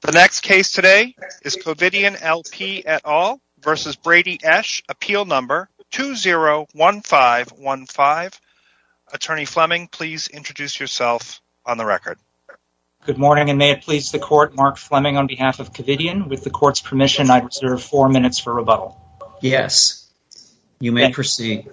The next case today is Covidien LP et al. v. Brady Esch, appeal number 201515. Attorney Fleming, please introduce yourself on the record. Good morning, and may it please the court, Mark Fleming on behalf of Covidien. With the court's permission, I reserve four minutes for rebuttal. Yes, you may proceed.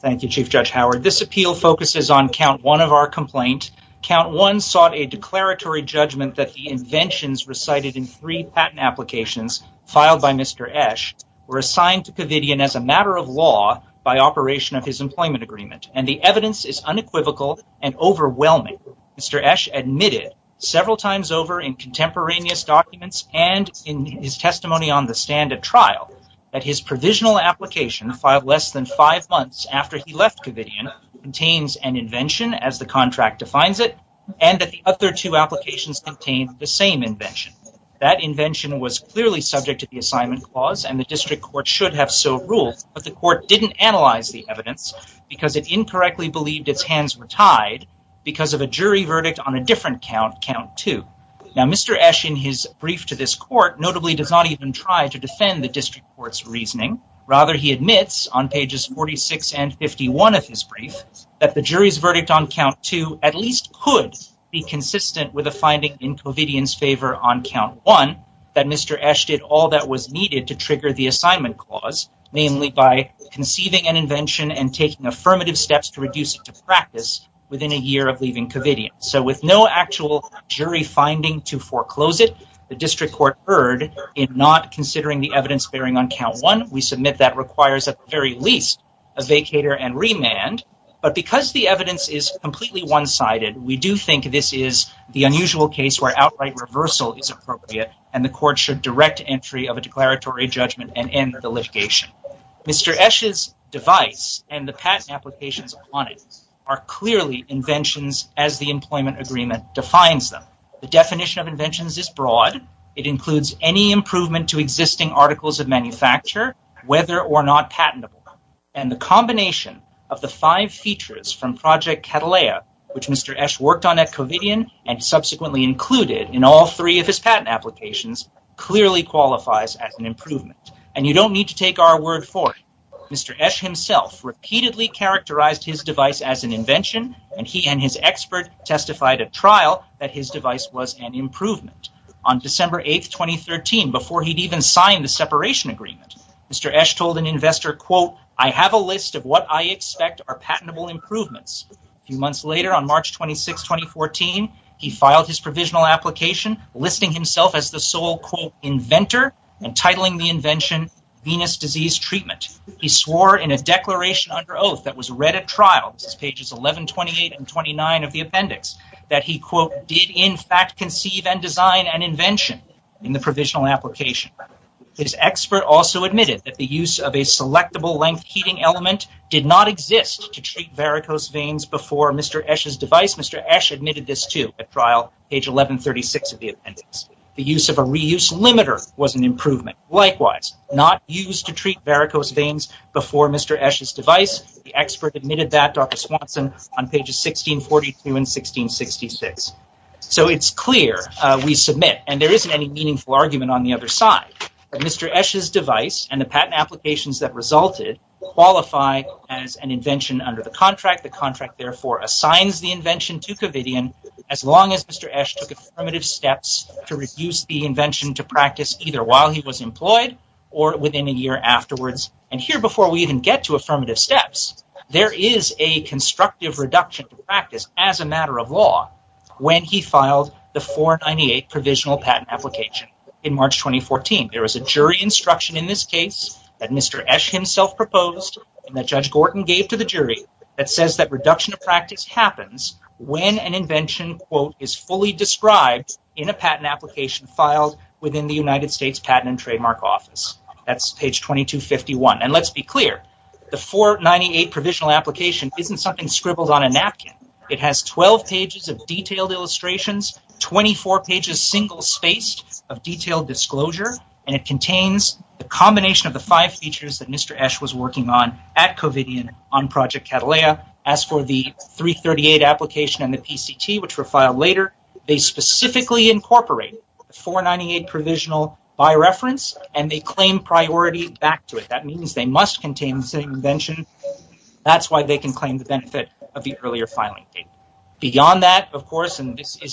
Thank you, Chief Judge Howard. This appeal focuses on count one of our complaint. Count one sought a declaratory judgment that the inventions recited in three patent applications filed by Mr. Esch were assigned to Covidien as a matter of law by operation of his employment agreement, and the evidence is unequivocal and overwhelming. Mr. Esch admitted several times over in contemporaneous documents and in his testimony on the stand at trial that his provisional application filed less than five months after he left Covidien contains an invention as the contract defines it, and that the other two applications contain the same invention. That invention was clearly subject to the assignment clause, and the district court should have so ruled, but the court didn't analyze the evidence because it incorrectly believed its hands were tied because of a jury verdict on a different count, count two. Now, Mr. Esch, in his brief to this court, notably does not even try to defend the district court's reasoning. Rather, he admits on pages 46 and 51 of his brief that the jury's verdict on count two at least could be consistent with a finding in Covidien's favor on count one that Mr. Esch did all that was needed to trigger the assignment clause, namely by conceiving an invention and taking affirmative steps to reduce it to practice within a year of leaving Covidien. So with no actual jury finding to foreclose it, the district court erred in not considering the evidence bearing on count one. We submit that requires at the very least a vacator and remand, but because the evidence is completely one-sided, we do think this is the unusual case where outright reversal is appropriate, and the court should direct entry of a declaratory judgment and end the litigation. Mr. Esch's device and the patent applications on it are clearly inventions as the employment agreement defines them. The definition of inventions is broad. It includes any improvement to existing articles of manufacture, whether or not patentable, and the combination of the five features from Project Catalea, which Mr. Esch worked on at Covidien and subsequently included in all three of his patent applications, clearly qualifies as an improvement, and you don't need to take our word for it. Mr. Esch himself repeatedly characterized his device as an invention, and he and his expert testified at trial that his device was an improvement. On December 8, 2013, before he'd even signed the separation agreement, Mr. Esch told an investor, ìI have a list of what I expect are patentable improvements.î A few months later, on March 26, 2014, he filed his provisional application, listing himself as the sole ìinventorî and titling the invention ìVenus Disease Treatment.î He swore in a declaration under oath that was read at trial, this is pages 11, 28, and 29 of the appendix, that he ìdid in fact conceive and design an inventionî in the provisional application. His expert also admitted that the use of a selectable length heating element did not exist to treat varicose veins before Mr. Esch's device. Mr. Esch admitted this too at trial, page 11, 36 of the appendix. The use of a reuse limiter was an improvement. Likewise, not used to treat varicose veins before Mr. Esch's device. The expert admitted that, Dr. Swanson, on pages 16, 42, and 16, 66. So it's clear we submit, and there isn't any meaningful argument on the other side, that Mr. Esch's device and the patent applications that resulted qualify as an invention under the contract. The contract therefore assigns the invention to Covidian as long as Mr. Esch took affirmative steps to reduce the invention to practice either while he was employed or within a year afterwards. And here, before we even get to affirmative steps, there is a constructive reduction to practice as a matter of law when he filed the 498 provisional patent application in March 2014. There was a jury instruction in this case that Mr. Esch himself proposed and that Judge Gorton gave to the jury that says that reduction to practice happens when an invention, quote, is fully described in a patent application filed within the United States Patent and Trademark Office. That's page 2251. And let's be clear, the 498 provisional application isn't something scribbled on a napkin. It has 12 pages of detailed illustrations, 24 pages single-spaced of detailed disclosure, and it contains the combination of the five features that Mr. Esch was working on at Covidian on Project Catalea. As for the 338 application and the PCT, which were filed later, they specifically incorporate the 498 provisional by reference and they claim priority back to it. That means they must contain the same invention. That's why they can claim the benefit of the earlier filing date. Beyond that, of course, and this is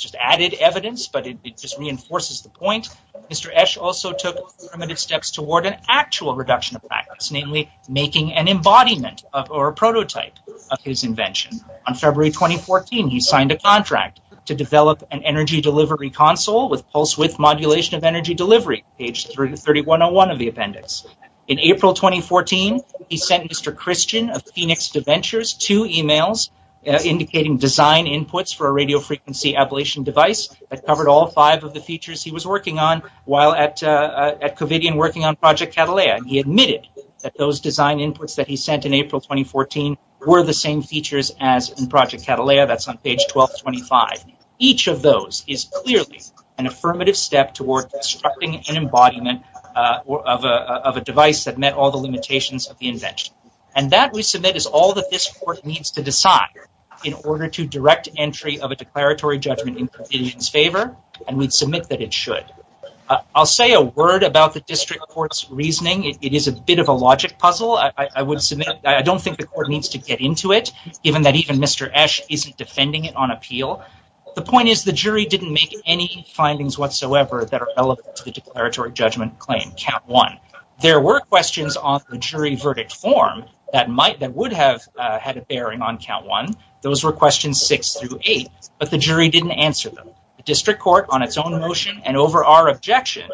just added evidence, but it just reinforces the point, Mr. Esch also took primitive steps toward an actual reduction of practice, namely making an embodiment or a prototype of his invention. On February 2014, he signed a contract to develop an energy delivery console with pulse-width modulation of energy delivery, page 3101 of the appendix. In April 2014, he sent Mr. Christian of Phoenix DeVentures two emails indicating design inputs for a radiofrequency ablation device that covered all five of the features he was working on while at Covidian working on Project Catalea. He admitted that those design inputs that he sent in April 2014 were the same features as in Project Catalea. That's on page 1225. Each of those is clearly an affirmative step toward constructing an embodiment of a device that met all the limitations of the invention. And that, we submit, is all that this Court needs to decide in order to direct entry of a declaratory judgment in Covidian's favor, and we'd submit that it should. I'll say a word about the District Court's reasoning. It is a bit of a logic puzzle. I would submit I don't think the Court needs to get into it, given that even Mr. Esch isn't defending it on appeal. The point is the jury didn't make any findings whatsoever that are relevant to the declaratory judgment claim, count one. There were questions on the jury verdict form that would have had a bearing on count one. Those were questions six through eight, but the jury didn't answer them. The District Court, on its own motion and over our objection,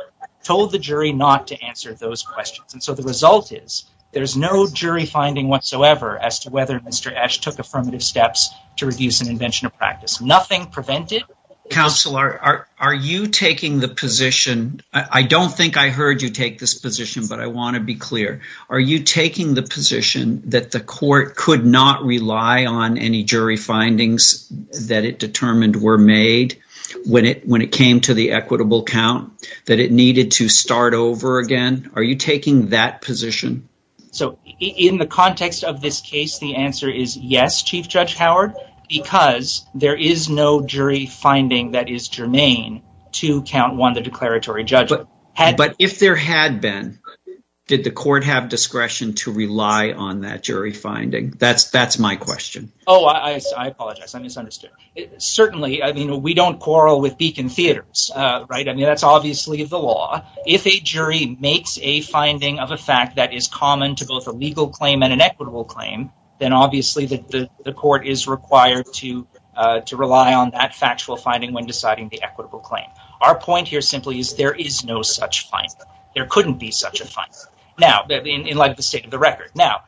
told the jury not to answer those questions. And so the result is there's no jury finding whatsoever as to whether Mr. Esch took affirmative steps to reduce an invention of practice. Nothing prevented... Counselor, are you taking the position... I don't think I heard you take this position, but I want to be clear. Are you taking the position that the Court could not rely on any jury findings that it determined were made when it came to the equitable count, that it needed to start over again? Are you taking that position? In the context of this case, the answer is yes, Chief Judge Howard, because there is no jury finding that is germane to count one, the declaratory judgment. But if there had been, did the Court have discretion to rely on that jury finding? That's my question. Oh, I apologize. I misunderstood. Certainly, I mean, we don't quarrel with Beacon Theaters, right? I mean, that's obviously the law. If a jury makes a finding of a fact that is common to both a legal claim and an equitable claim, then obviously the Court is required to rely on that factual finding when deciding the equitable claim. Our point here simply is there is no such finding. There couldn't be such a finding. Now, in light of the state of the record. Now,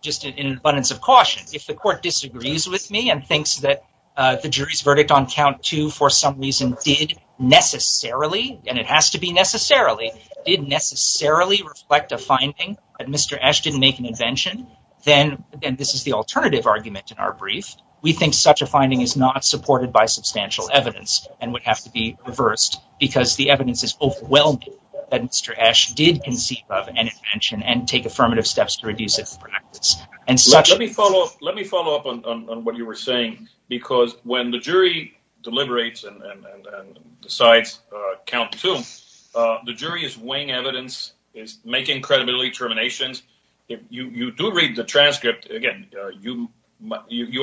just in abundance of caution, if the Court disagrees with me and thinks that the jury's verdict on count two for some reason did necessarily, and it has to be necessarily, did necessarily reflect a finding, that Mr. Esch didn't make an invention, then this is the alternative argument in our brief. We think such a finding is not supported by substantial evidence and would have to be reversed because the evidence is overwhelming that Mr. Esch did conceive of an invention and take affirmative steps to reduce it for practice. Let me follow up on what you were saying because when the jury deliberates and decides count two, the jury is weighing evidence, is making credibility determinations. You do read the transcript. Again, you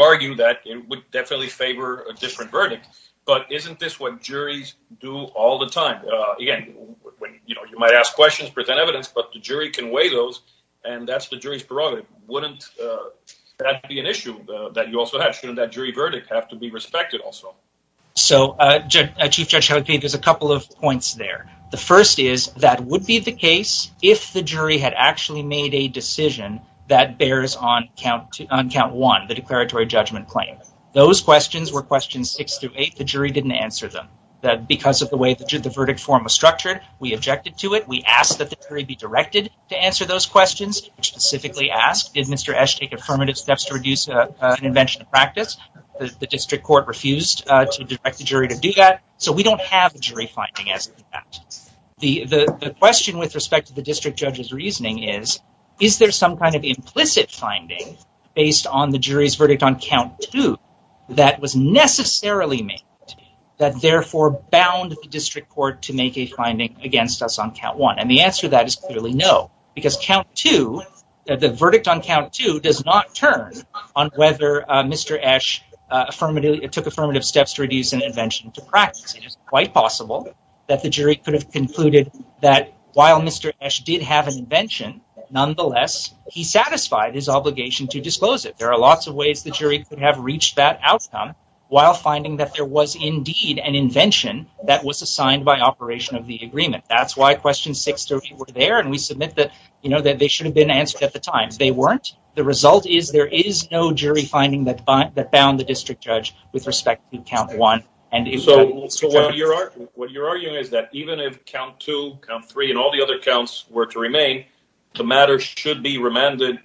argue that it would definitely favor a different verdict, but isn't this what juries do all the time? Again, you might ask questions, present evidence, but the jury can weigh those and that's the jury's prerogative. Wouldn't that be an issue that you also have? Shouldn't that jury verdict have to be respected also? So, Chief Judge, there's a couple of points there. The first is that would be the case if the jury had actually made a decision that bears on count one, the declaratory judgment claim. Those questions were questions six through eight. The jury didn't answer them. Because of the way the verdict form was structured, we objected to it. We asked that the jury be directed to answer those questions. We specifically asked, did Mr. Esch take affirmative steps to reduce an invention of practice? The district court refused to direct the jury to do that, so we don't have a jury finding as to that. The question with respect to the district judge's reasoning is, is there some kind of implicit finding based on the jury's verdict on count two that was necessarily made that therefore bound the district court to make a finding against us on count one? And the answer to that is clearly no. Because count two, the verdict on count two, does not turn on whether Mr. Esch took affirmative steps to reduce an invention to practice. It is quite possible that the jury could have concluded that while Mr. Esch did have an invention, nonetheless, he satisfied his obligation to disclose it. There are lots of ways the jury could have reached that outcome while finding that there was indeed an invention that was assigned by operation of the agreement. That's why questions six through eight were there, and we submit that they should have been answered at the time. They weren't. The result is there is no jury finding that bound the district judge with respect to count one. What you're arguing is that even if count two, count three, and all the other counts were to remain, the matter should be remanded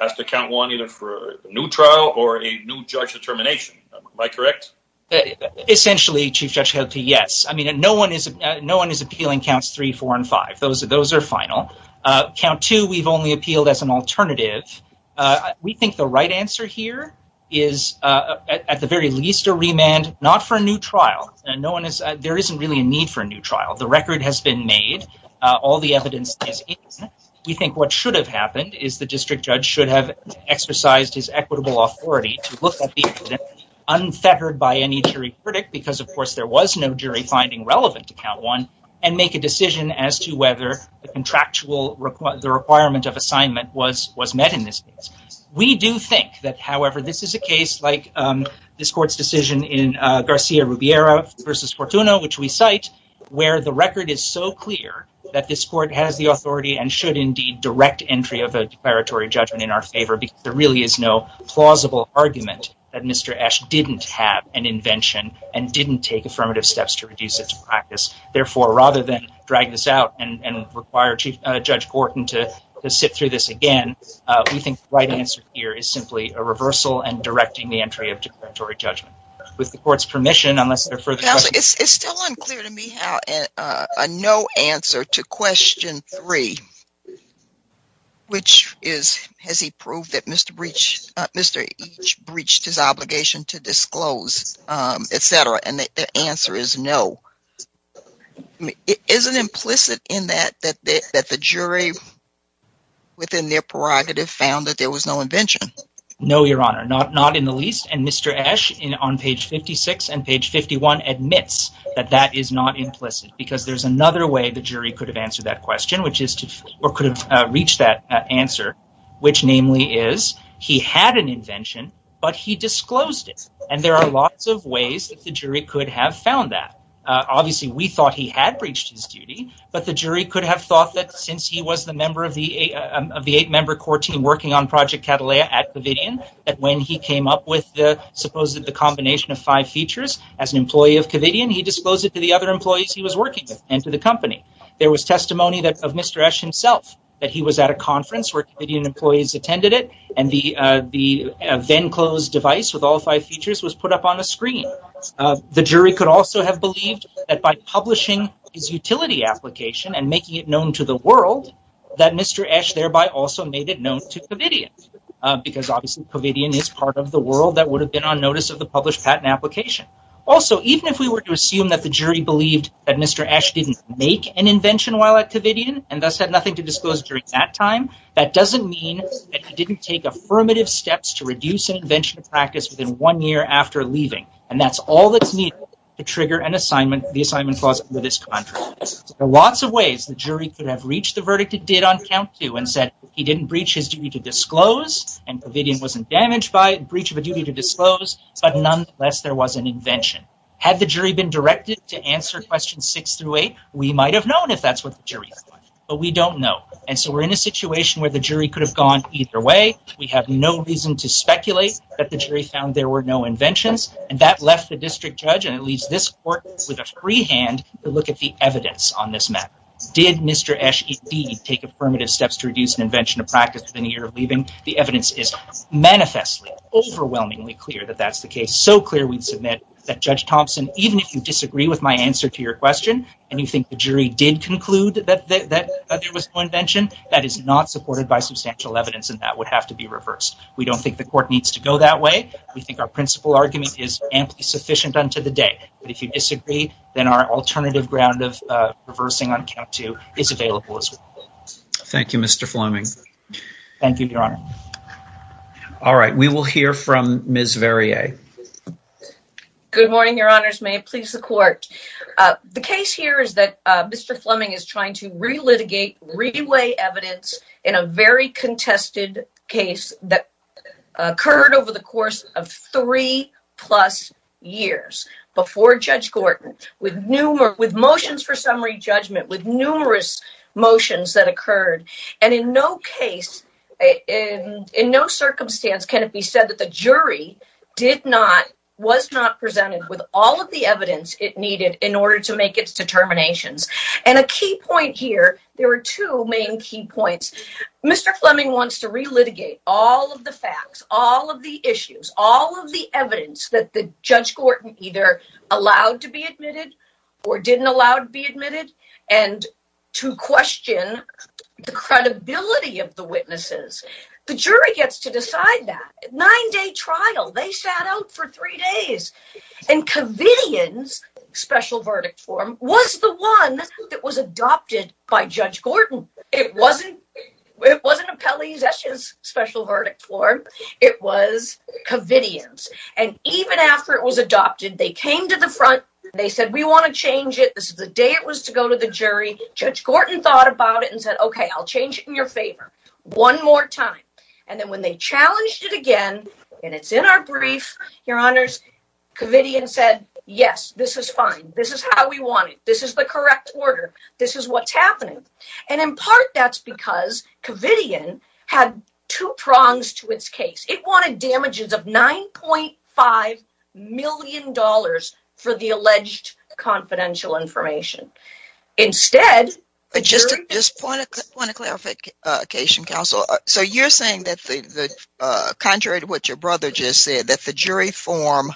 as to count one either for a new trial or a new judge determination. Am I correct? Essentially, Chief Judge Helty, yes. No one is appealing counts three, four, and five. Those are final. Count two, we've only appealed as an alternative. We think the right answer here is at the very least a remand, not for a new trial. There isn't really a need for a new trial. The record has been made. All the evidence is in it. We think what should have happened is the district judge should have exercised his equitable authority to look at the evidence unfettered by any jury predict because, of course, there was no jury finding relevant to count one and make a decision as to whether the requirement of assignment was met in this case. We do think that, however, this is a case like this court's decision in Garcia-Rubiera v. Fortuna, which we cite, where the record is so clear that this court has the authority and should indeed direct entry of a declaratory judgment in our favor because there really is no plausible argument that Mr. Esch didn't have an invention and didn't take affirmative steps to reduce its practice. Therefore, rather than drag this out and require Judge Gorton to sit through this again, we think the right answer here is simply a reversal and directing the entry of declaratory judgment. With the court's permission, unless there are further questions... Counsel, it's still unclear to me how a no answer to question three, which is, has he proved that Mr. Esch breached his obligation to disclose, etc., and the answer is no, isn't implicit in that that the jury, within their prerogative, found that there was no invention? No, Your Honor, not in the least. And Mr. Esch, on page 56 and page 51, admits that that is not implicit because there's another way the jury could have answered that question, or could have reached that answer, which namely is he had an invention, but he disclosed it. And there are lots of ways that the jury could have found that. Obviously, we thought he had breached his duty, but the jury could have thought that, since he was the member of the eight-member court team working on Project Cataleya at Covidian, that when he came up with the supposed combination of five features as an employee of Covidian, he disclosed it to the other employees he was working with, and to the company. There was testimony of Mr. Esch himself, that he was at a conference where Covidian employees attended it, and the then-closed device with all five features was put up on a screen. The jury could also have believed that by publishing his utility application and making it known to the world, that Mr. Esch thereby also made it known to Covidian, because obviously Covidian is part of the world that would have been on notice of the published patent application. Also, even if we were to assume that the jury believed that Mr. Esch didn't make an invention while at Covidian, and thus had nothing to disclose during that time, that doesn't mean that he didn't take affirmative steps to reduce an invention practice within one year after leaving. And that's all that's needed to trigger the assignment clause under this contract. There are lots of ways the jury could have reached the verdict it did on count to, and said he didn't breach his duty to disclose, and Covidian wasn't damaged by a breach of a duty to disclose, but nonetheless there was an invention. Had the jury been directed to answer questions 6 through 8, we might have known if that's what the jury thought, but we don't know. And so we're in a situation where the jury could have gone either way. We have no reason to speculate that the jury found there were no inventions, and that left the district judge, and it leaves this court with a free hand to look at the evidence on this matter. Did Mr. Esch indeed take affirmative steps to reduce an invention of practice within a year of leaving? The evidence is manifestly, overwhelmingly clear that that's the case. So clear we'd submit that Judge Thompson, even if you disagree with my answer to your question, and you think the jury did conclude that there was no invention, that is not supported by substantial evidence, and that would have to be reversed. We don't think the court needs to go that way. We think our principal argument is amply sufficient unto the day. But if you disagree, then our alternative ground of reversing on count two is available as well. Thank you, Mr. Fleming. Thank you, Your Honor. All right, we will hear from Ms. Verrier. Good morning, Your Honors. May it please the court. The case here is that Mr. Fleming is trying to relitigate, re-weigh evidence in a very contested case that occurred over the course of three-plus years before Judge Gordon with motions for summary judgment, with numerous motions that occurred. And in no case, in no circumstance can it be said that the jury did not, was not presented with all of the evidence it needed in order to make its determinations. And a key point here, there are two main key points. Mr. Fleming wants to relitigate all of the facts, all of the issues, all of the evidence that Judge Gordon either allowed to be admitted or didn't allow to be admitted, and to question the credibility of the witnesses. The jury gets to decide that. Nine-day trial, they sat out for three days. And Covidien's special verdict form was the one that was adopted by Judge Gordon. It wasn't Appellee Zesch's special verdict form. It was Covidien's. And even after it was adopted, they came to the front. They said, we want to change it. This is the day it was to go to the jury. Judge Gordon thought about it and said, okay, I'll change it in your favor one more time. And then when they challenged it again, and it's in our brief, Your Honors, Covidien said, yes, this is fine. This is how we want it. This is the correct order. This is what's happening. And in part, that's because Covidien had two prongs to its case. It wanted damages of $9.5 million for the alleged confidential information. Instead, the jury – Just a point of clarification, Counsel. So you're saying that, contrary to what your brother just said, that the jury form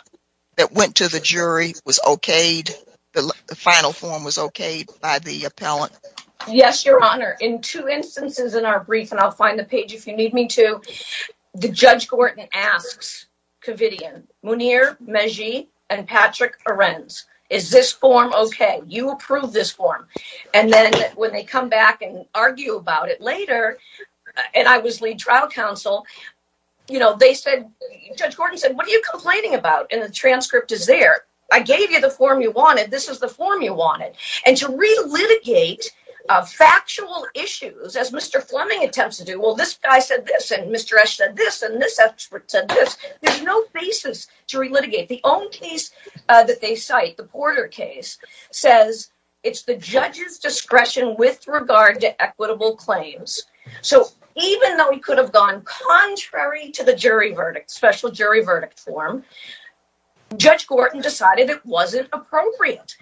that went to the jury was okayed, the final form was okayed by the appellant? Yes, Your Honor. In two instances in our brief, and I'll find the page if you need me to, Judge Gordon asks Covidien, Mounir Mejie and Patrick Arends, is this form okay? You approve this form. And then when they come back and argue about it later, and I was lead trial counsel, they said – Judge Gordon said, what are you complaining about? And the transcript is there. I gave you the form you wanted. This is the form you wanted. And to relitigate factual issues, as Mr. Fleming attempts to do, well, this guy said this, and Mr. Esch said this, and this expert said this. There's no basis to relitigate. The own case that they cite, the Porter case, says it's the judge's discretion with regard to equitable claims. So even though he could have gone contrary to the jury verdict, special jury verdict form, Judge Gordon decided it wasn't appropriate.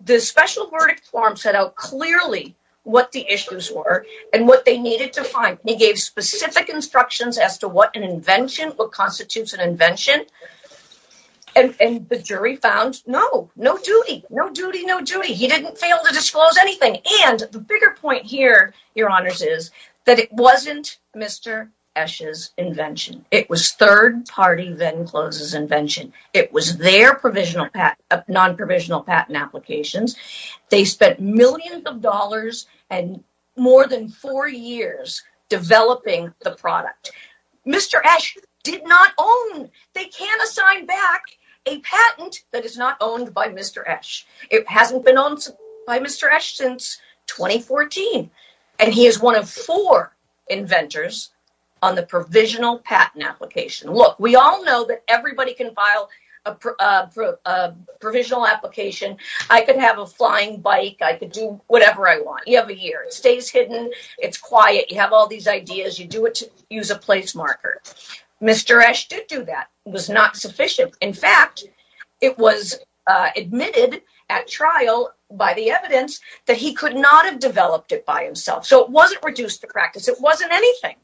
The special verdict form set out clearly what the issues were and what they needed to find. He gave specific instructions as to what an invention, what constitutes an invention. And the jury found no, no duty, no duty, no duty. He didn't fail to disclose anything. And the bigger point here, Your Honors, is that it wasn't Mr. Esch's invention. It was third-party Venclose's invention. It was their non-provisional patent applications. They spent millions of dollars and more than four years developing the product. Mr. Esch did not own, they can't assign back a patent that is not owned by Mr. Esch. It hasn't been owned by Mr. Esch since 2014. And he is one of four inventors on the provisional patent application. Look, we all know that everybody can file a provisional application. I could have a flying bike. I could do whatever I want. You have a year. It stays hidden. It's quiet. You have all these ideas. You do it to use a place marker. Mr. Esch did do that. It was not sufficient. In fact, it was admitted at trial by the evidence that he could not have developed it by himself. So it wasn't reduced to practice. It wasn't anything.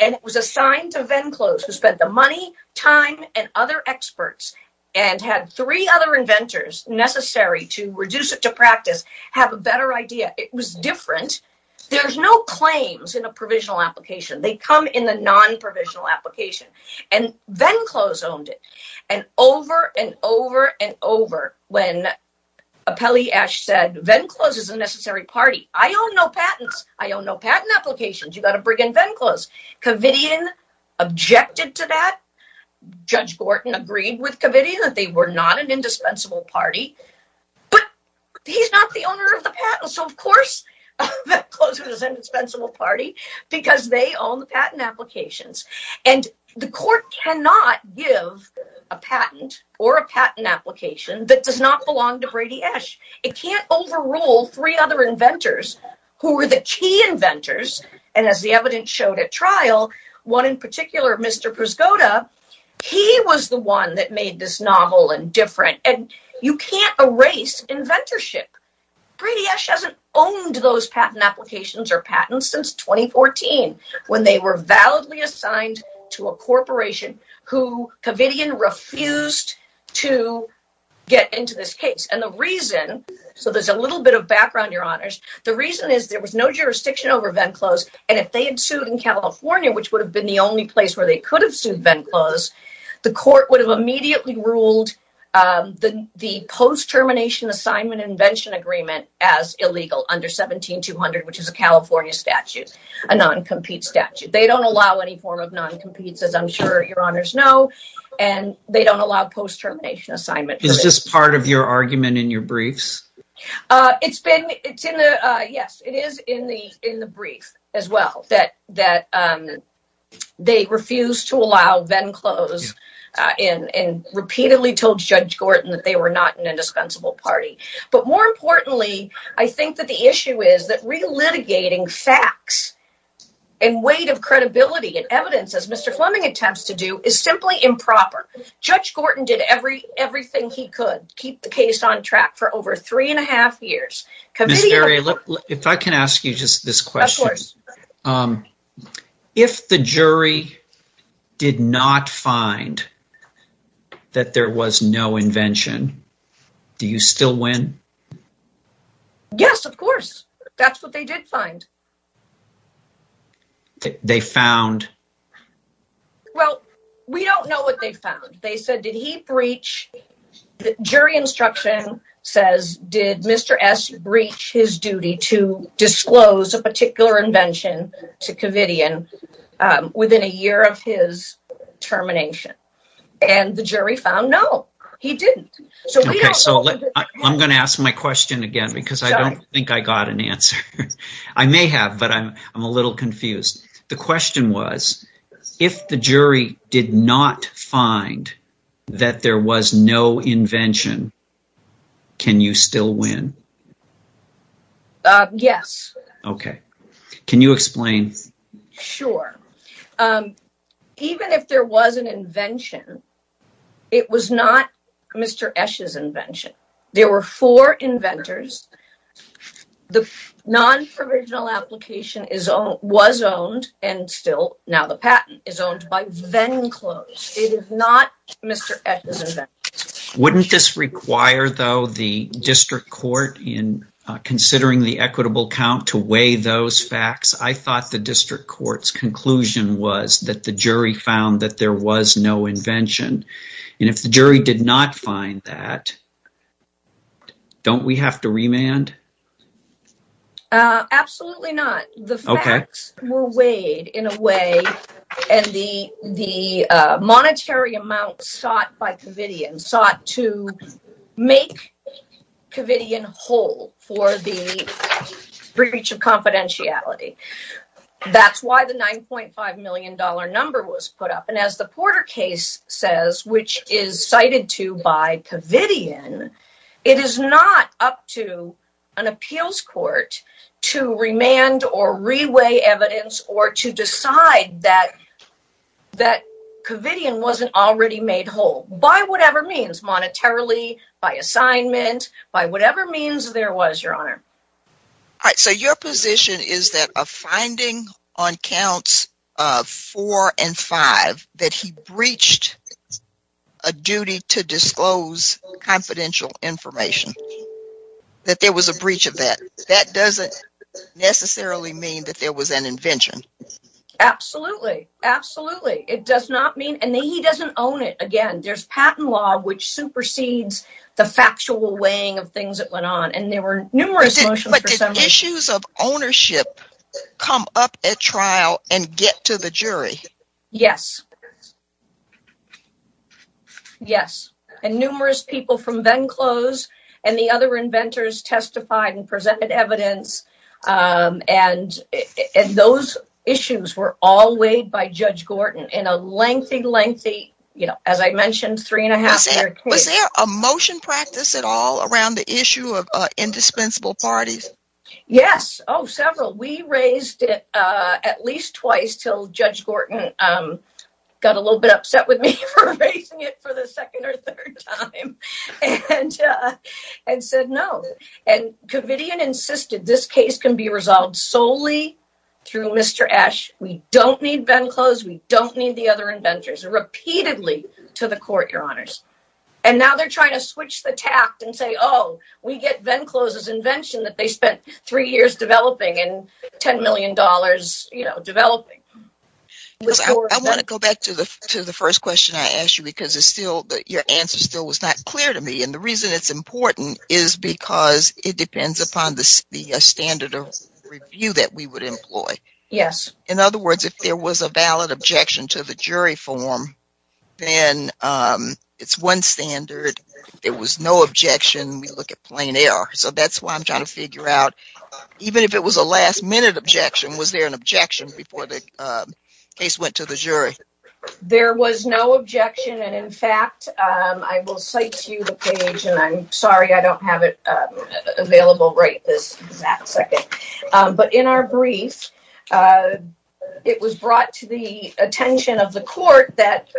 And it was assigned to Venclose, who spent the money, time, and other experts and had three other inventors necessary to reduce it to practice, have a better idea. It was different. There's no claims in a provisional application. They come in the non-provisional application. And Venclose owned it. And over and over and over, when Apelli Esch said, Venclose is a necessary party. I own no patents. I own no patent applications. You've got to bring in Venclose. Covidian objected to that. Judge Gorton agreed with Covidian that they were not an indispensable party. But he's not the owner of the patent. So, of course, Venclose was an indispensable party because they own the patent applications. And the court cannot give a patent or a patent application that does not belong to Brady Esch. It can't overrule three other inventors who were the key inventors. And as the evidence showed at trial, one in particular, Mr. Priscotta, he was the one that made this novel and different. And you can't erase inventorship. Brady Esch hasn't owned those patent applications or patents since 2014, when they were validly assigned to a corporation who Covidian refused to get into this case. And the reason, so there's a little bit of background, Your Honors. The reason is there was no jurisdiction over Venclose. And if they had sued in California, which would have been the only place where they could have sued Venclose, the court would have immediately ruled the post-termination assignment invention agreement as illegal under 17200, which is a California statute, a non-compete statute. They don't allow any form of non-competes, as I'm sure Your Honors know, and they don't allow post-termination assignment. Is this part of your argument in your briefs? It's been, it's in the, yes, it is in the brief as well, that they refused to allow Venclose and repeatedly told Judge Gorton that they were not an indispensable party. But more importantly, I think that the issue is that relitigating facts and weight of credibility and evidence, as Mr. Fleming attempts to do, is simply improper. Judge Gorton did everything he could to keep the case on track for over three and a half years. Ms. Berry, if I can ask you just this question. Of course. If the jury did not find that there was no invention, do you still win? Yes, of course. That's what they did find. They found? Well, we don't know what they found. They said, did he breach, the jury instruction says, did Mr. S breach his duty to disclose a particular invention to Kavitian within a year of his termination? And the jury found, no, he didn't. I'm going to ask my question again because I don't think I got an answer. I may have, but I'm a little confused. The question was, if the jury did not find that there was no invention, can you still win? Yes. Can you explain? Sure. Even if there was an invention, it was not Mr. Esch's invention. There were four inventors. The non-provisional application was owned and still, now the patent is owned by Venclose. It is not Mr. Esch's invention. Wouldn't this require, though, the district court, in considering the equitable count, to weigh those facts? I thought the district court's conclusion was that the jury found that there was no invention. And if the jury did not find that, don't we have to remand? Absolutely not. The facts were weighed in a way, and the monetary amount sought by Kavitian for the breach of confidentiality. That's why the $9.5 million number was put up. And as the Porter case says, which is cited to by Kavitian, it is not up to an appeals court to remand or re-weigh evidence or to decide that Kavitian wasn't already made whole. By whatever means, monetarily, by assignment, by whatever means there was, Your Honor. All right, so your position is that a finding on counts four and five that he breached a duty to disclose confidential information, that there was a breach of that, that doesn't necessarily mean that there was an invention. Absolutely, absolutely. It does not mean, and he doesn't own it. Again, there's patent law which supersedes the factual weighing of things that went on, and there were numerous motions for summary. But did issues of ownership come up at trial and get to the jury? Yes. Yes, and numerous people from Venclose and the other inventors testified and presented evidence, and those issues were all weighed by Judge Gorton. In a lengthy, lengthy, as I mentioned, three-and-a-half-year case. Was there a motion practice at all around the issue of indispensable parties? Yes, several. We raised it at least twice until Judge Gorton got a little bit upset with me for raising it for the second or third time and said no. Kavitian insisted this case can be resolved solely through Mr. Esch. We don't need Venclose, we don't need the other inventors. Repeatedly to the court, Your Honors. And now they're trying to switch the tact and say, oh, we get Venclose's invention that they spent three years developing and $10 million developing. I want to go back to the first question I asked you because your answer still was not clear to me, and the reason it's important is because it depends upon the standard of review that we would employ. Yes. In other words, if there was a valid objection to the jury form, then it's one standard. If there was no objection, we look at plain error. So that's why I'm trying to figure out, even if it was a last-minute objection, was there an objection before the case went to the jury? There was no objection, and in fact, I will cite to you the page, and I'm sorry I don't have it available right this exact second. But in our brief, it was brought to the attention of the court that –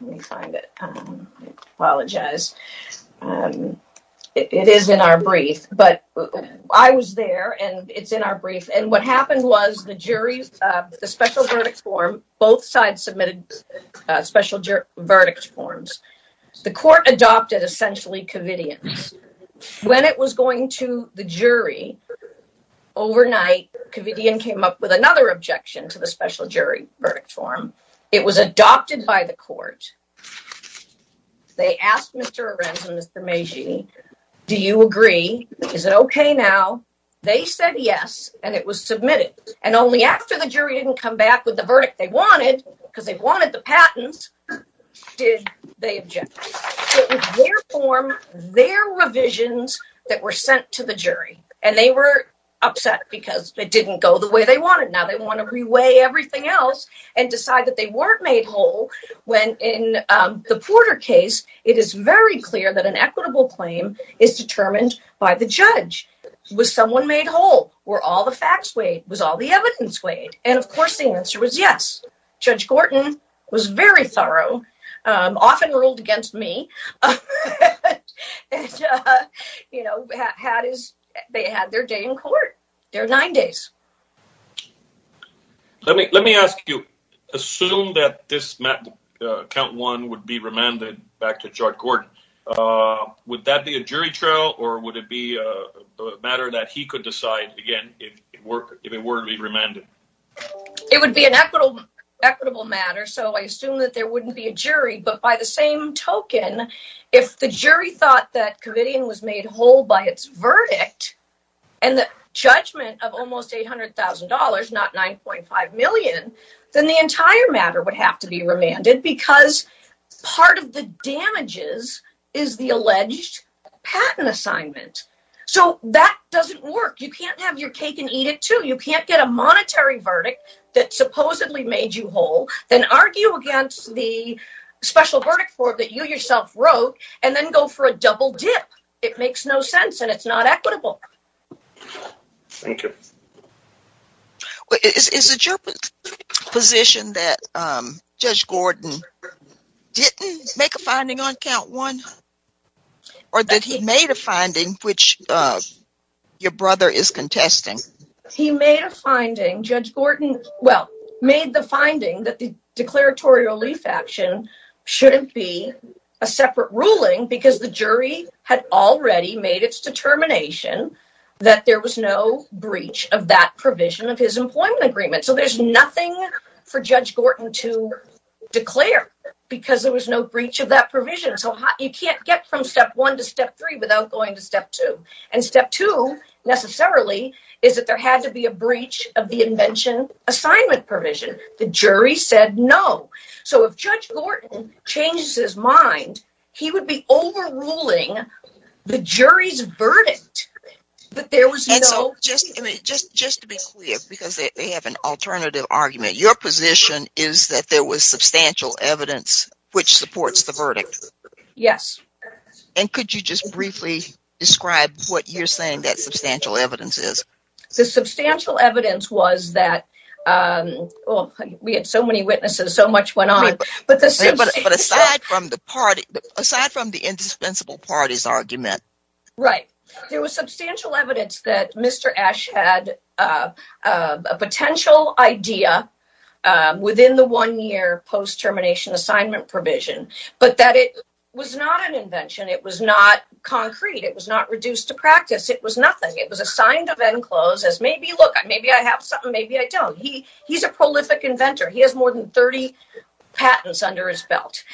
let me find it. I apologize. It is in our brief, but I was there, and it's in our brief. And what happened was the jury's – the special verdict form, both sides submitted special verdict forms. The court adopted essentially covidience. When it was going to the jury overnight, covidien came up with another objection to the special jury verdict form. It was adopted by the court. They asked Mr. Arendt and Mr. Meiji, do you agree? Is it okay now? They said yes, and it was submitted. And only after the jury didn't come back with the verdict they wanted, because they wanted the patents, did they object. It was their form, their revisions that were sent to the jury, and they were upset because it didn't go the way they wanted. Now they want to reweigh everything else and decide that they weren't made whole when in the Porter case, it is very clear that an equitable claim is determined by the judge. Was someone made whole? Were all the facts weighed? Was all the evidence weighed? And, of course, the answer was yes. Judge Gorton was very thorough, often ruled against me. They had their day in court, their nine days. Let me ask you. Assume that this count one would be remanded back to Judge Gorton. Would that be a jury trial, or would it be a matter that he could decide, again, if it were to be remanded? It would be an equitable matter, so I assume that there wouldn't be a jury, but by the same token, if the jury thought that Kavitian was made whole by its verdict and the judgment of almost $800,000, not $9.5 million, then the entire matter would have to be remanded because part of the damages is the alleged patent assignment. That doesn't work. You can't have your cake and eat it, too. You can't get a monetary verdict that supposedly made you whole, then argue against the special verdict form that you yourself wrote, and then go for a double dip. It makes no sense, and it's not equitable. Thank you. Is it your position that Judge Gorton didn't make a finding on count one, or that he made a finding which your brother is contesting? He made a finding. Judge Gorton, well, made the finding that the declaratory relief action shouldn't be a separate ruling because the jury had already made its determination that there was no breach of that provision of his employment agreement. So there's nothing for Judge Gorton to declare because there was no breach of that provision. So you can't get from step one to step three without going to step two, and step two, necessarily, is that there had to be a breach of the invention assignment provision. The jury said no. So if Judge Gorton changes his mind, he would be overruling the jury's verdict. Just to be clear, because they have an alternative argument, your position is that there was substantial evidence which supports the verdict. Yes. And could you just briefly describe what you're saying that substantial evidence is? The substantial evidence was that we had so many witnesses, so much went on. But aside from the indispensable parties' argument. Right. There was substantial evidence that Mr. Esch had a potential idea within the one-year post-termination assignment provision, but that it was not an invention. It was not concrete. It was not reduced to practice. It was nothing. It was assigned to Venclose as maybe, look, maybe I have something, maybe I don't. He's a prolific inventor. He has more than 30 patents under his belt.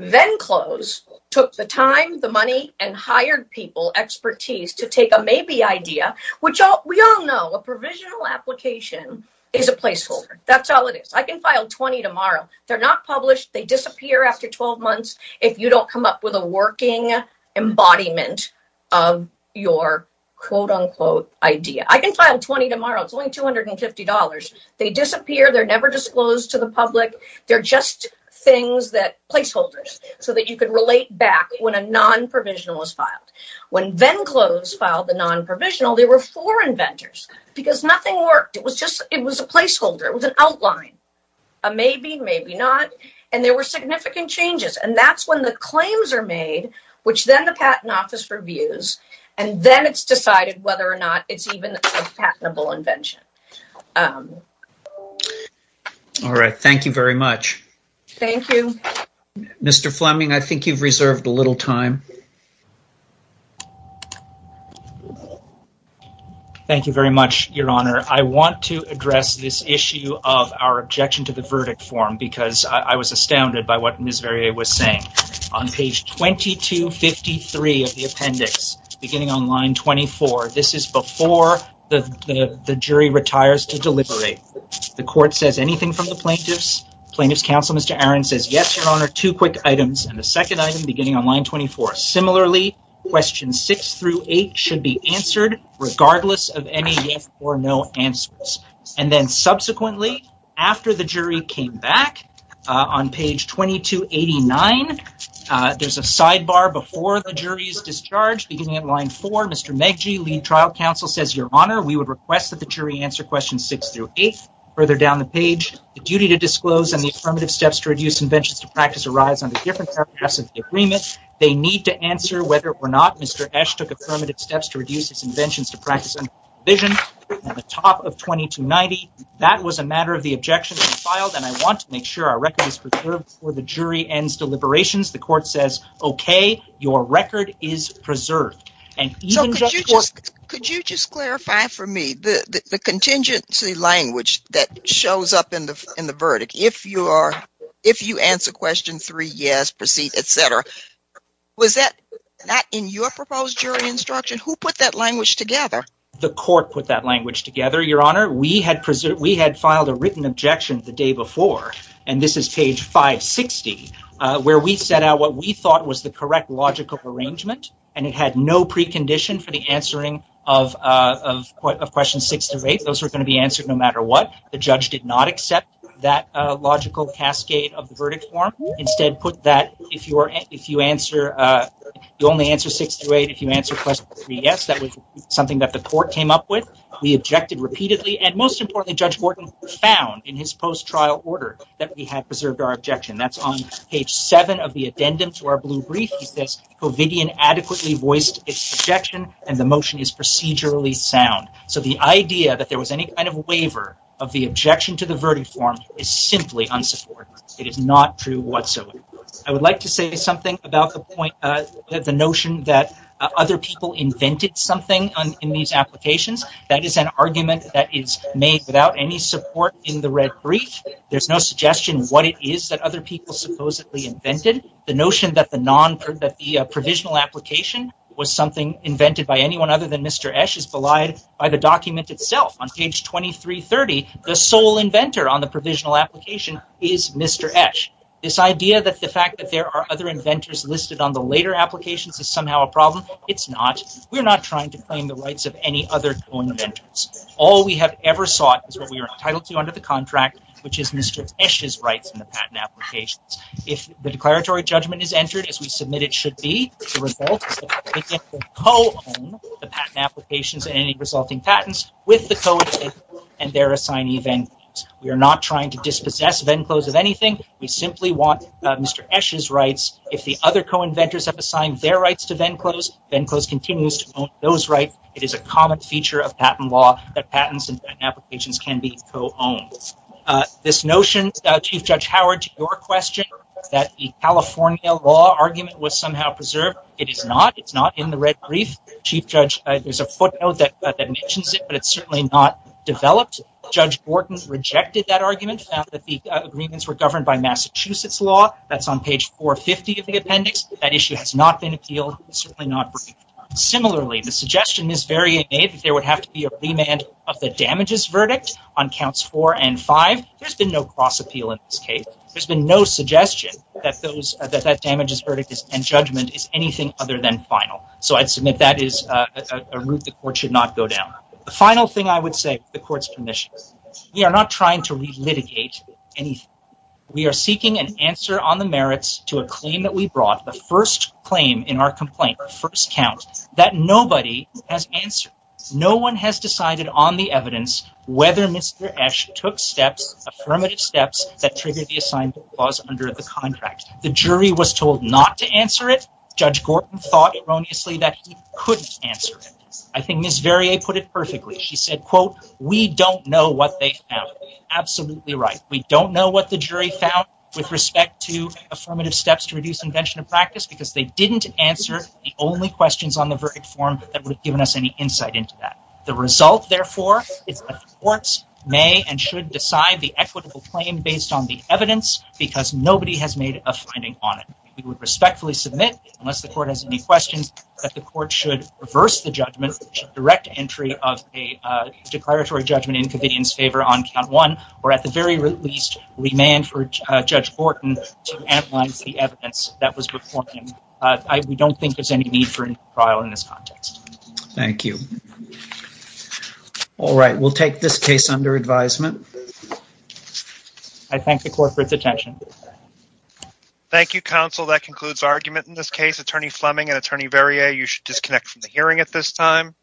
Venclose took the time, the money, and hired people expertise to take a maybe idea, which we all know a provisional application is a placeholder. That's all it is. I can file 20 tomorrow. They're not published. They disappear after 12 months if you don't come up with a working embodiment of your quote-unquote idea. I can file 20 tomorrow. It's only $250. They disappear. They're never disclosed to the public. They're just placeholders so that you can relate back when a non-provisional was filed. When Venclose filed the non-provisional, there were four inventors because nothing worked. It was a placeholder. It was an outline, a maybe, maybe not. And there were significant changes. And that's when the claims are made, which then the Patent Office reviews, and then it's decided whether or not it's even a patentable invention. All right. Thank you very much. Thank you. Mr. Fleming, I think you've reserved a little time. Thank you very much, Your Honor. I want to address this issue of our objection to the verdict form because I was astounded by what Ms. Verrier was saying. On page 2253 of the appendix, beginning on line 24, this is before the jury retires to deliberate. The court says anything from the plaintiffs. Plaintiff's counsel, Mr. Aaron, says yes, Your Honor, two quick items. And the second item, beginning on line 24, similarly questions six through eight should be answered regardless of any yes or no answers. And then subsequently, after the jury came back, on page 2289, there's a sidebar before the jury is discharged. Beginning on line four, Mr. Meggie, lead trial counsel, says, Your Honor, we would request that the jury answer questions six through eight. Further down the page, the duty to disclose and the affirmative steps to reduce inventions to practice arise under different paragraphs of the agreement. They need to answer whether or not Mr. Esch took affirmative steps to reduce his inventions to practice under the top of 2290. That was a matter of the objection to be filed. And I want to make sure our record is preserved before the jury ends deliberations. The court says, okay, your record is preserved. So could you just clarify for me the contingency language that shows up in the verdict? If you answer question three, yes, proceed, et cetera, was that not in your proposed jury instruction? Who put that language together? The court put that language together, Your Honor. We had filed a written objection the day before, and this is page 560 where we set out what we thought was the correct logical arrangement. And it had no precondition for the answering of questions six through eight. Those were going to be answered no matter what the judge did not accept that logical cascade of the verdict form. Instead put that if you answer, you only answer six through eight. If you answer question three, yes, that was something that the court came up with. We objected repeatedly. And most importantly, Judge Gordon found in his post-trial order that we had preserved our objection. That's on page seven of the addendum to our blue brief. He says, Covidian adequately voiced its objection and the motion is procedurally sound. So the idea that there was any kind of waiver of the objection to the verdict form is simply unsupportive. It is not true whatsoever. I would like to say something about the point that the notion that other people invented something in these applications, that is an argument that is made without any support in the red brief. There's no suggestion what it is that other people supposedly invented. The notion that the non-provisional application was something invented by anyone other than Mr. Esch is belied by the document itself. On page 2330, the sole inventor on the provisional application is Mr. Esch. This idea that the fact that there are other inventors listed on the later patent applications is somehow a problem. It's not. We're not trying to claim the rights of any other co-inventors. All we have ever sought is what we are entitled to under the contract, which is Mr. Esch's rights in the patent applications. If the declaratory judgment is entered as we submit, it should be the result of co-owning the patent applications and any resulting patents with the co-inventors and their assignee. We are not trying to dispossess Venclose of anything. We simply want Mr. Esch's rights. If the other co-inventors have assigned their rights to Venclose, Venclose continues to own those rights. It is a common feature of patent law that patents and applications can be co-owned. This notion, Chief Judge Howard, to your question, that the California law argument was somehow preserved, it is not. It's not in the red brief. Chief Judge, there's a footnote that mentions it, but it's certainly not developed. Judge Gordon rejected that argument, found that the agreements were governed by Massachusetts law. That's on page 450 of the appendix. That issue has not been appealed. It's certainly not breached. Similarly, the suggestion is very innate that there would have to be a remand of the damages verdict on counts four and five. There's been no cross appeal in this case. There's been no suggestion that those, that that damages verdict and judgment is anything other than final. So I'd submit that is a route the court should not go down. The final thing I would say, the court's permissions. We are not trying to re-litigate anything. We are seeking an answer on the merits to a claim that we brought the first claim in our complaint, our first count, that nobody has answered. No one has decided on the evidence, whether Mr. Esch took steps, affirmative steps that triggered the assigned clause under the contract. The jury was told not to answer it. Judge Gordon thought erroneously that he couldn't answer it. I think Ms. Verrier put it perfectly. She said, quote, we don't know what they found. Absolutely right. We don't know what the jury found with respect to affirmative steps to reduce invention of practice, because they didn't answer the only questions on the verdict form that would have given us any insight into that. The result, therefore, it's courts may and should decide the equitable claim based on the evidence because nobody has made a finding on it. We would respectfully submit unless the court has any questions that the court should reverse the judgment, direct entry of a declaratory judgment in convenience favor on count one, or at the very least remand for Judge Gordon to analyze the evidence that was performed. We don't think there's any need for trial in this context. Thank you. All right. We'll take this case under advisement. I thank the court for its attention. Thank you, counsel. That concludes argument in this case, attorney Fleming and attorney Verrier. You should disconnect from the hearing at this time.